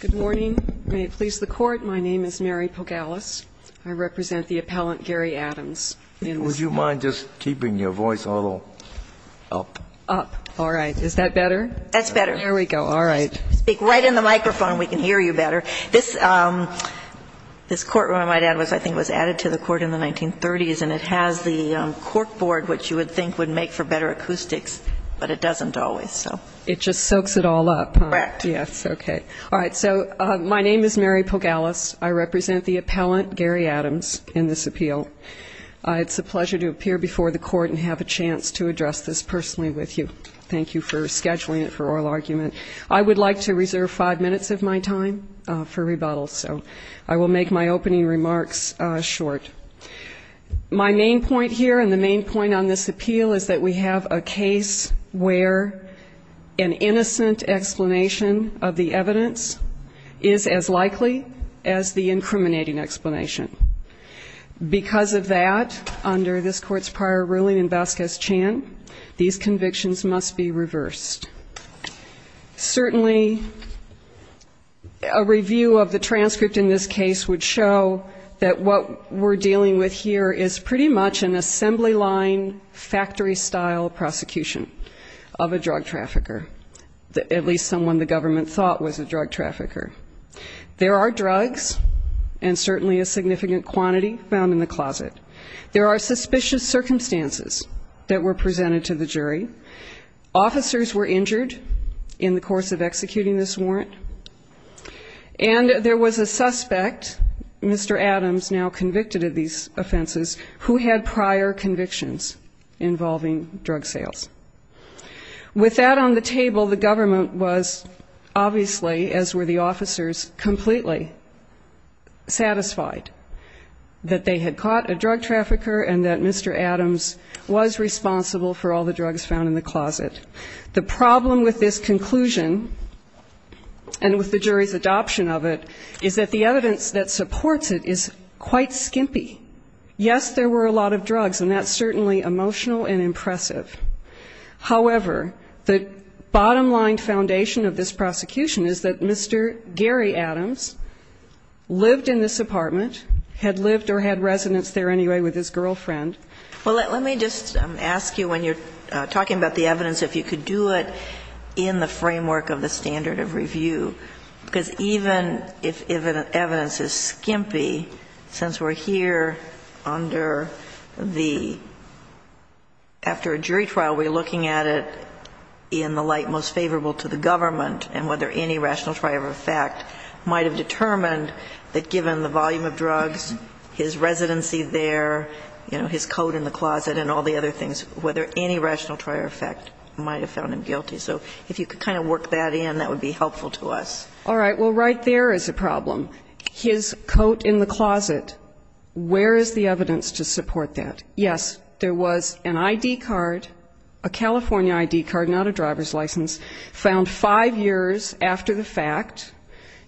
Good morning. May it please the Court, my name is Mary Pogalis. I represent the appellant Gary Adams. Would you mind just keeping your voice a little up? Up. All right. Is that better? That's better. There we go. All right. Speak right in the microphone, we can hear you better. This courtroom, I might add, I think was added to the Court in the 1930s, and it has the cork board, which you would think would make for better acoustics, but it doesn't always, so. It just soaks it all up, huh? Correct. Yes. Okay. All right. So my name is Mary Pogalis. I represent the appellant Gary Adams in this appeal. It's a pleasure to appear before the Court and have a chance to address this personally with you. Thank you for scheduling it for oral argument. I would like to reserve five minutes of my time for rebuttal, so I will make my opening remarks short. My main point here and the main point on this appeal is that we have a case where an innocent explanation of the evidence is as likely as the incriminating explanation. Because of that, under this Court's prior ruling in Vasquez Chan, these convictions must be reversed. Certainly a review of the transcript in this case would show that what we're dealing with here is pretty much an assembly-line, factory-style prosecution of a drug trafficker, at least someone the government thought was a drug trafficker. There are drugs, and certainly a significant quantity, found in the closet. There are suspicious circumstances that were presented to the jury. Officers were injured in the course of executing this warrant, and there was a suspect, Mr. Adams, who was involved in these offenses, who had prior convictions involving drug sales. With that on the table, the government was, obviously, as were the officers, completely satisfied that they had caught a drug trafficker and that Mr. Adams was responsible for all the drugs found in the closet. The problem with this conclusion and with the jury's adoption of it is that the evidence that supports it is quite skimpy. Yes, there were a lot of drugs, and that's certainly emotional and impressive. However, the bottom-line foundation of this prosecution is that Mr. Gary Adams lived in this apartment, had lived or had residence there anyway with his girlfriend. Well, let me just ask you, when you're talking about the evidence, if you could do it in the framework of the standard of review, because even if evidence is skimpy, since we're here under the – after a jury trial, we're looking at it in the light most favorable to the government and whether any rational trial of effect might have determined that given the volume of drugs, his residency there, you know, his coat in the closet and all the other things, whether any rational trial of effect might have found him guilty. So if you could kind of work that in, that would be helpful to us. All right. Well, right there is a problem. His coat in the closet, where is the evidence to support that? Yes, there was an ID card, a California ID card, not a driver's license, found five years after the fact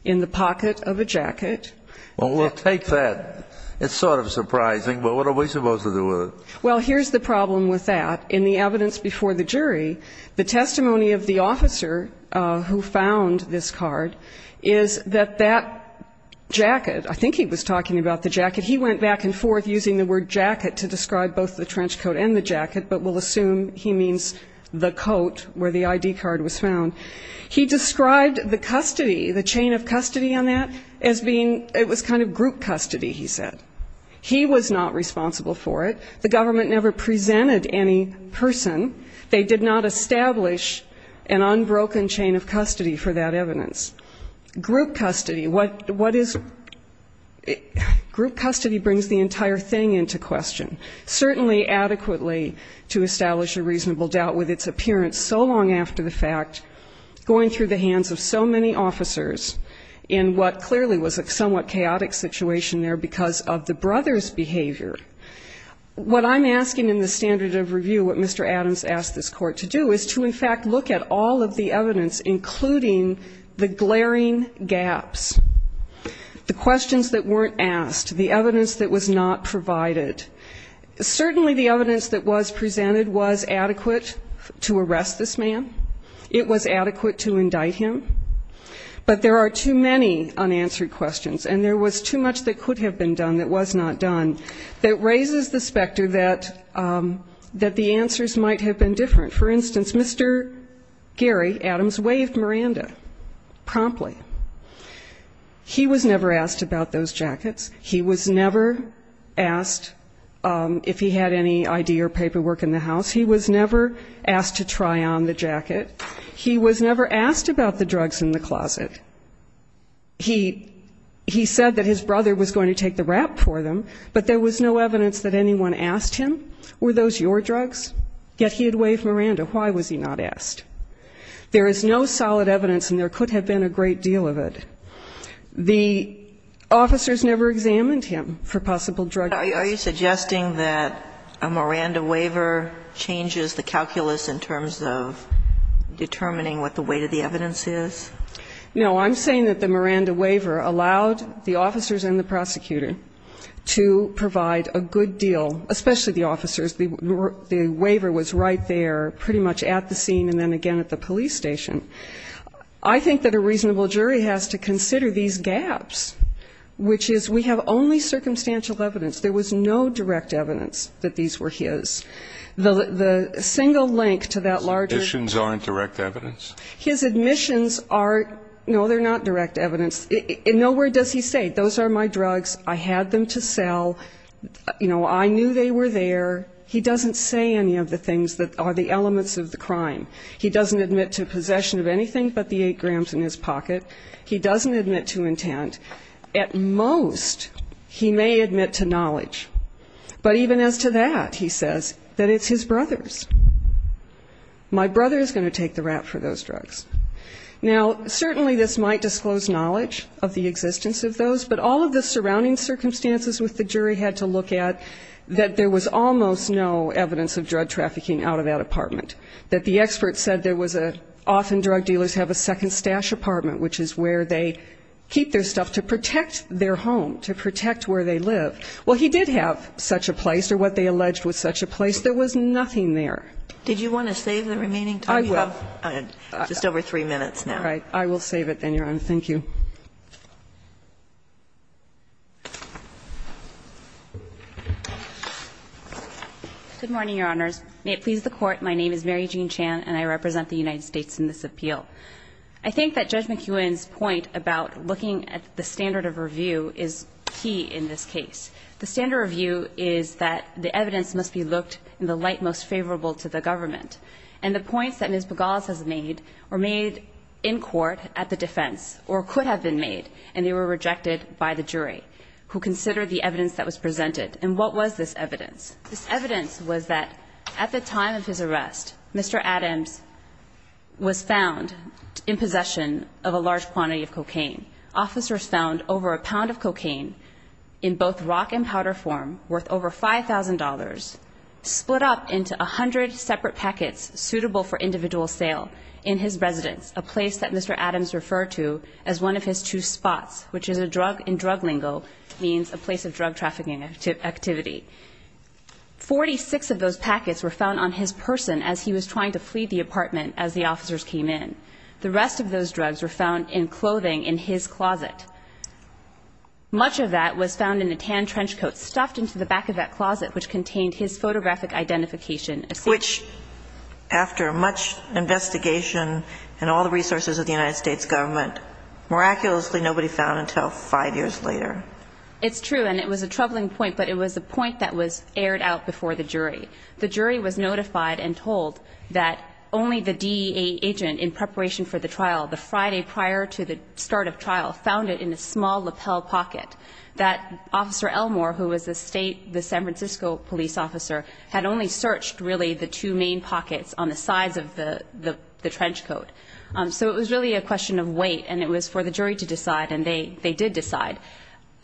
in the pocket of a jacket. Well, we'll take that. It's sort of surprising, but what are we supposed to do with it? Well, here's the problem with that. In the evidence before the jury, the testimony of the officer who found this card is that that jacket, I think he was talking about the jacket, he went back and forth using the word jacket to describe both the trench coat and the jacket, but we'll assume he means the coat where the ID card was found. He described the custody, the chain of custody on that as being, it was kind of group custody, he said. He was not responsible for it. The government never presented any person. They did not establish an unbroken chain of custody for that evidence. Group custody, what is, group custody brings the entire thing into question. Certainly adequately to establish a reasonable doubt with its appearance so long after the fact, going through the hands of so many officers in what clearly was a somewhat chaotic situation there because of the brothers' behavior. What I'm asking in the standard of review what Mr. Adams asked this Court to do is to in fact look at all of the evidence, including the glaring gaps, the questions that weren't asked, the evidence that was not provided, certainly the evidence that was presented was adequate to arrest this man, it was adequate to indict him, but there are too many unanswered questions and there was too much that could have been done that was not done that raises the specter that the answers might have been different. For instance, Mr. Gary Adams waved Miranda promptly. He was never asked about those jackets. He was never asked if he had any ID or paperwork in the house. He was never asked to try on the jacket. He was never asked about the drugs in the closet. He said that his brother was going to take the rap for them, but there was no evidence that anyone asked him, were those your drugs? Yet he had waved Miranda. Why was he not asked? There is no solid evidence and there could have been a great deal of it. The officers never examined him for possible drugs. Are you suggesting that a Miranda waiver changes the calculus in terms of determining what the weight of the evidence is? No, I'm saying that the Miranda waiver allowed the officers and the prosecutor to provide a good deal, especially the officers, the waiver was right there pretty much at the scene and then again at the police station. I think that a reasonable jury has to consider these gaps, which is we have only circumstantial evidence. There was no direct evidence that these were his. The single link to that larger... His admissions aren't direct evidence? His admissions are, no, they're not direct evidence. In no way does he say those are my drugs, I had them to sell, you know, I knew they were there. He doesn't say any of the things that are the elements of the crime. He doesn't admit to possession of anything but the eight grams in his pocket. He doesn't admit to intent. At most he may admit to knowledge. But even as to that, he says, that it's his brother's. My brother is going to take the rap for those drugs. Now, certainly this might disclose knowledge of the existence of those, but all of the surrounding circumstances with the jury had to look at that there was almost no evidence of drug trafficking out of that apartment. That the expert said there was a, often drug dealers have a second stash apartment, which is where they keep their stuff to protect their home, to protect where they live. Well, he did have such a place, or what they alleged was such a place. There was nothing there. Did you want to save the remaining time? I will. Just over three minutes now. All right. I will save it then, Your Honor. Thank you. Good morning, Your Honors. May it please the Court, my name is Mary Jean Chan and I represent the United States in this appeal. I think that Judge McEwen's point about looking at the standard of review is key in this case. The standard of review is that the evidence must be looked in the light most favorable to the government. And the points that Ms. Bogales has made were made in court at the defense, or could have been made, and they were rejected by the jury, who considered the evidence that was presented. And what was this evidence? This evidence was that at the time of his arrest, Mr. Adams was found in possession of a large quantity of cocaine. Officers found over a pound of cocaine in both rock and powder form, worth over $5,000, split up into 100 separate packets suitable for individual sale in his residence, a place that Mr. Adams referred to as one of his two spots, which in drug lingo means a place of drug trafficking activity. Forty-six of those packets were found on his person as he was trying to flee the apartment as the officers came in. The rest of those drugs were found in clothing in his closet. Much of that was found in a tan trench coat stuffed into the back of that closet, which contained his photographic identification. Which, after much investigation and all the resources of the United States government, miraculously nobody found until five years later. It's true, and it was a troubling point, but it was a point that was aired out before the jury. The jury was notified and told that only the DEA agent in preparation for the trial, the Friday prior to the start of trial, found it in a small lapel pocket. That Officer Elmore, who was the state, the San Francisco police officer, had only searched really the two main pockets on the sides of the trench coat. So it was really a question of weight, and it was for the jury to decide, and they did decide.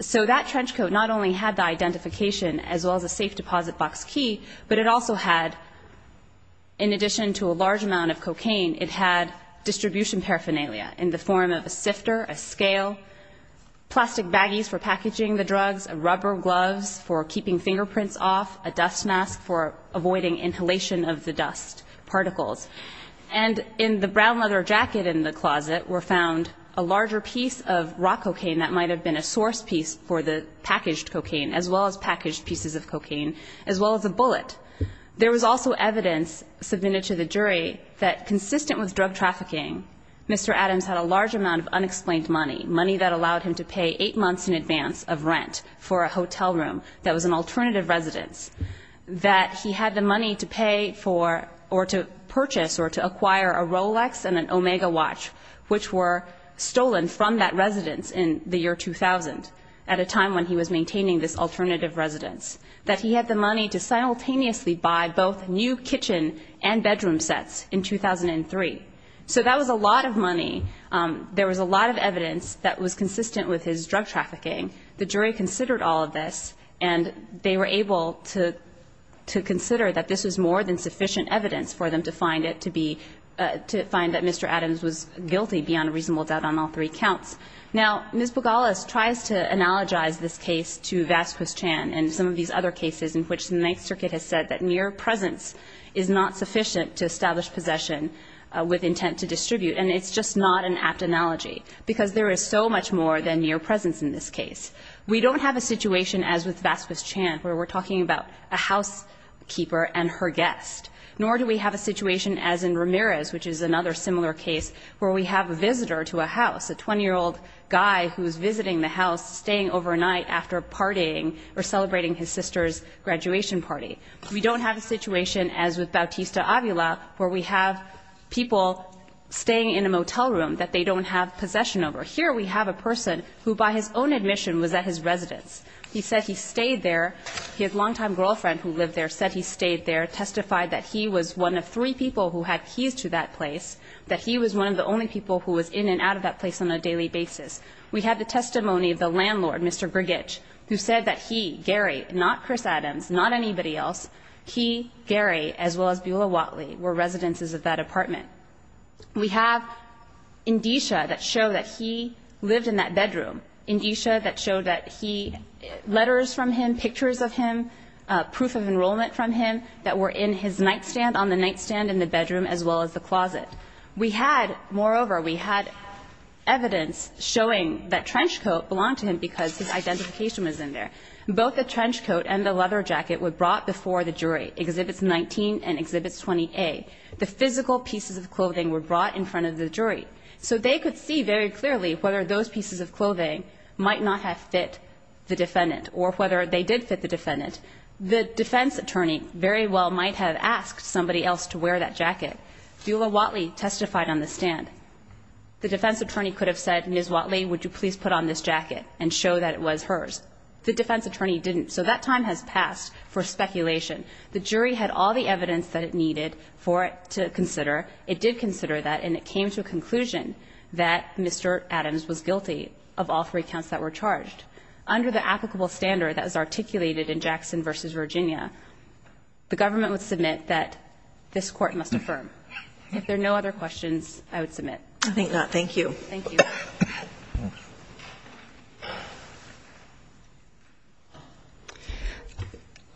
So that trench coat not only had the identification as well as a safe deposit box key, but it also had, in addition to a large amount of cocaine, it had distribution paraphernalia in the form of a sifter, a scale, plastic baggies for packaging the drugs, rubber gloves for keeping fingerprints off, a dust mask for avoiding inhalation of the dust particles. And in the brown leather jacket in the closet were found a larger piece of rock cocaine that might have been a source piece for the packaged cocaine, as well as packaged pieces of cocaine, as well as a bullet. There was also evidence submitted to the jury that, consistent with drug trafficking, Mr. Adams had a large amount of unexplained money, money that allowed him to pay eight months in advance of rent for a hotel room that was an alternative residence, that he had the money to pay for or to purchase or to acquire a Rolex and an Omega watch, which were stolen from that residence in the year 2000, at a time when he was maintaining this alternative residence, that he had the money to simultaneously buy both new kitchen and bedroom sets in 2003. So that was a lot of money. There was a lot of evidence that was consistent with his drug trafficking. The jury considered all of this, and they were able to consider that this was more than sufficient evidence for them to find it to be, to find that Mr. Adams was guilty beyond a reasonable doubt on all three counts. Now, Ms. Bogalas tries to analogize this case to Vasquez Chan and some of these other cases in which the Ninth Circuit has said that mere presence is not sufficient to establish possession with intent to distribute. And it's just not an apt analogy, because there is so much more than mere presence in this case. We don't have a situation as with Vasquez Chan where we're talking about a housekeeper and her guest, nor do we have a situation as in Ramirez, which is another similar case where we have a visitor to a house, a 20-year-old guy who's visiting the house, staying overnight after partying or celebrating his sister's graduation party. We don't have a situation as with Bautista Avila where we have people staying in a motel room that they don't have possession over. Here we have a person who, by his own admission, was at his residence. He said he stayed there. His longtime girlfriend who lived there said he stayed there, testified that he was one of three people who had keys to that place, that he was one of the only people who was in and out of that place on a daily basis. We had the testimony of the landlord, Mr. Grgich, who said that he, Gary, not Chris Adams, not anybody else, he, Gary, as well as Beulah Watley were residences of that apartment. We have indicia that show that he lived in that bedroom, indicia that show that he, letters from him, pictures of him, proof of enrollment from him that were in his nightstand, on the nightstand in the bedroom as well as the closet. We had, moreover, we had evidence showing that trench coat belonged to him because his identification was in there. Both the trench coat and the leather jacket were brought before the jury, Exhibits 19 and Exhibits 20A. The physical pieces of clothing were brought in front of the jury. So they could see very clearly whether those pieces of clothing might not have fit the defendant or whether they did fit the defendant. The defense attorney very well might have asked somebody else to wear that jacket. Beulah Watley testified on the stand. The defense attorney could have said, Ms. Watley, would you please put on this jacket and show that it was hers. The defense attorney didn't. So that time has passed for speculation. The jury had all the evidence that it needed for it to consider. It did consider that, and it came to a conclusion that Mr. Adams was guilty of all three counts that were charged. Under the applicable standard that was articulated in Jackson v. Virginia, the government would submit that this court must affirm. If there are no other questions, I would submit. I think not. Thank you. Thank you.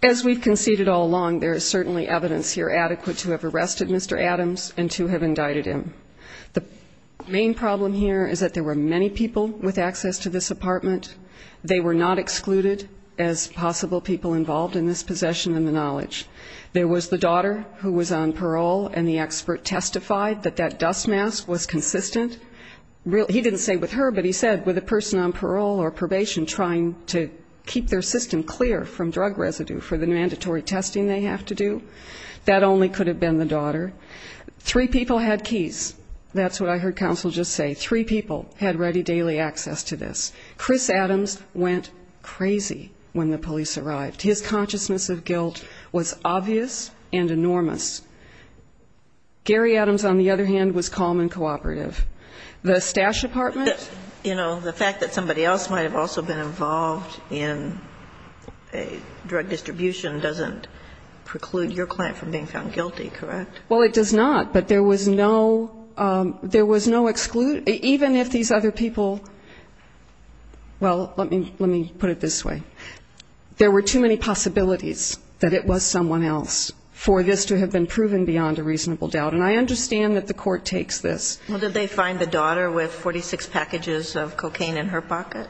As we've conceded all along, there is certainly evidence here adequate to have arrested Mr. Adams and to have indicted him. The main problem here is that there were many people with access to this apartment. They were not excluded as possible people involved in this possession and the knowledge. There was the daughter who was on parole, and the expert testified that that dust mask was consistent. He didn't say with her, but he said with a person on parole or probation trying to keep their system clear from drug residue for the mandatory testing they have to do. That only could have been the daughter. Three people had keys. That's what I heard counsel just say. Three people had ready daily access to this. Chris Adams went crazy when the police arrived. His consciousness of guilt was obvious and enormous. Gary Adams, on the other hand, was calm and cooperative. The stash apartment? You know, the fact that somebody else might have also been involved in a drug distribution doesn't preclude your client from being found guilty, correct? Well, it does not. But there was no exclude. Even if these other people, well, let me put it this way. There were too many possibilities that it was someone else for this to have been proven beyond a reasonable doubt. And I understand that the court takes this. Well, did they find the daughter with 46 packages of cocaine in her pocket?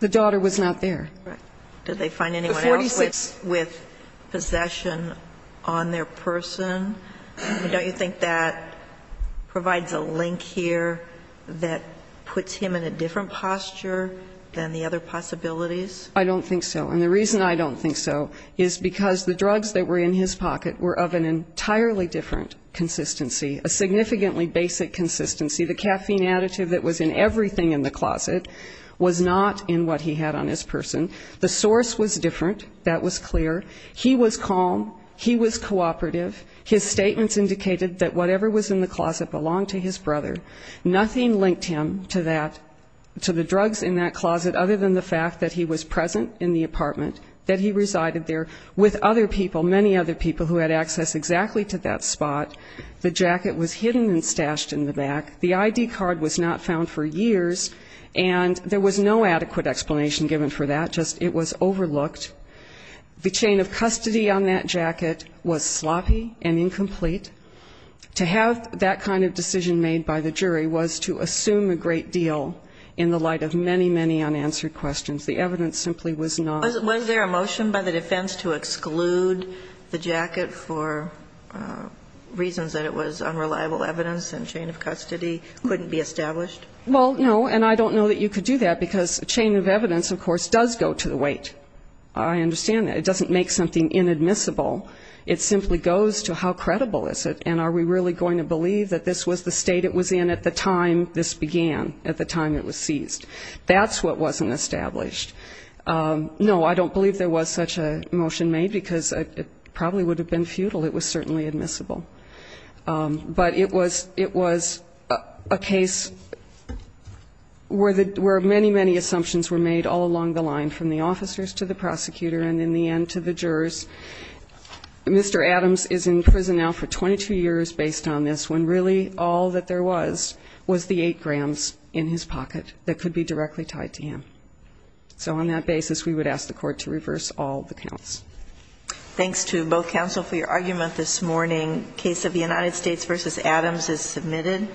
The daughter was not there. Correct. Did they find anyone else with possession on their person? Don't you think that provides a link here that puts him in a different posture than the other possibilities? I don't think so. And the reason I don't think so is because the drugs that were in his pocket were of an entirely different consistency, a significantly basic consistency. The caffeine additive that was in everything in the closet was not in what he had on his person. The source was different. That was clear. He was calm. He was cooperative. His statements indicated that whatever was in the closet belonged to his brother. Nothing linked him to that, to the drugs in that closet other than the fact that he was present in the apartment, that he resided there with other people, many other people who had access exactly to that spot. The jacket was hidden and stashed in the back. The ID card was not found for years, and there was no adequate explanation given for that. Just it was overlooked. The chain of custody on that jacket was sloppy and incomplete. To have that kind of decision made by the jury was to assume a great deal in the light of many, many unanswered questions. The evidence simply was not. Was there a motion by the defense to exclude the jacket for reasons that it was unreliable evidence and chain of custody couldn't be established? Well, no, and I don't know that you could do that because a chain of evidence, of course, does go to the weight. I understand that. It doesn't make something inadmissible. It simply goes to how credible is it, and are we really going to believe that this was the state it was in at the time this began, at the time it was seized? That's what wasn't established. No, I don't believe there was such a motion made because it probably would have been futile. It was certainly admissible. But it was a case where many, many assumptions were made all along the line, from the officers to the prosecutor and, in the end, to the jurors. Mr. Adams is in prison now for 22 years based on this, when really all that there was was the eight grams in his pocket that could be directly tied to him. So on that basis, we would ask the Court to reverse all the counts. Thanks to both counsel for your argument this morning. Case of the United States v. Adams is submitted.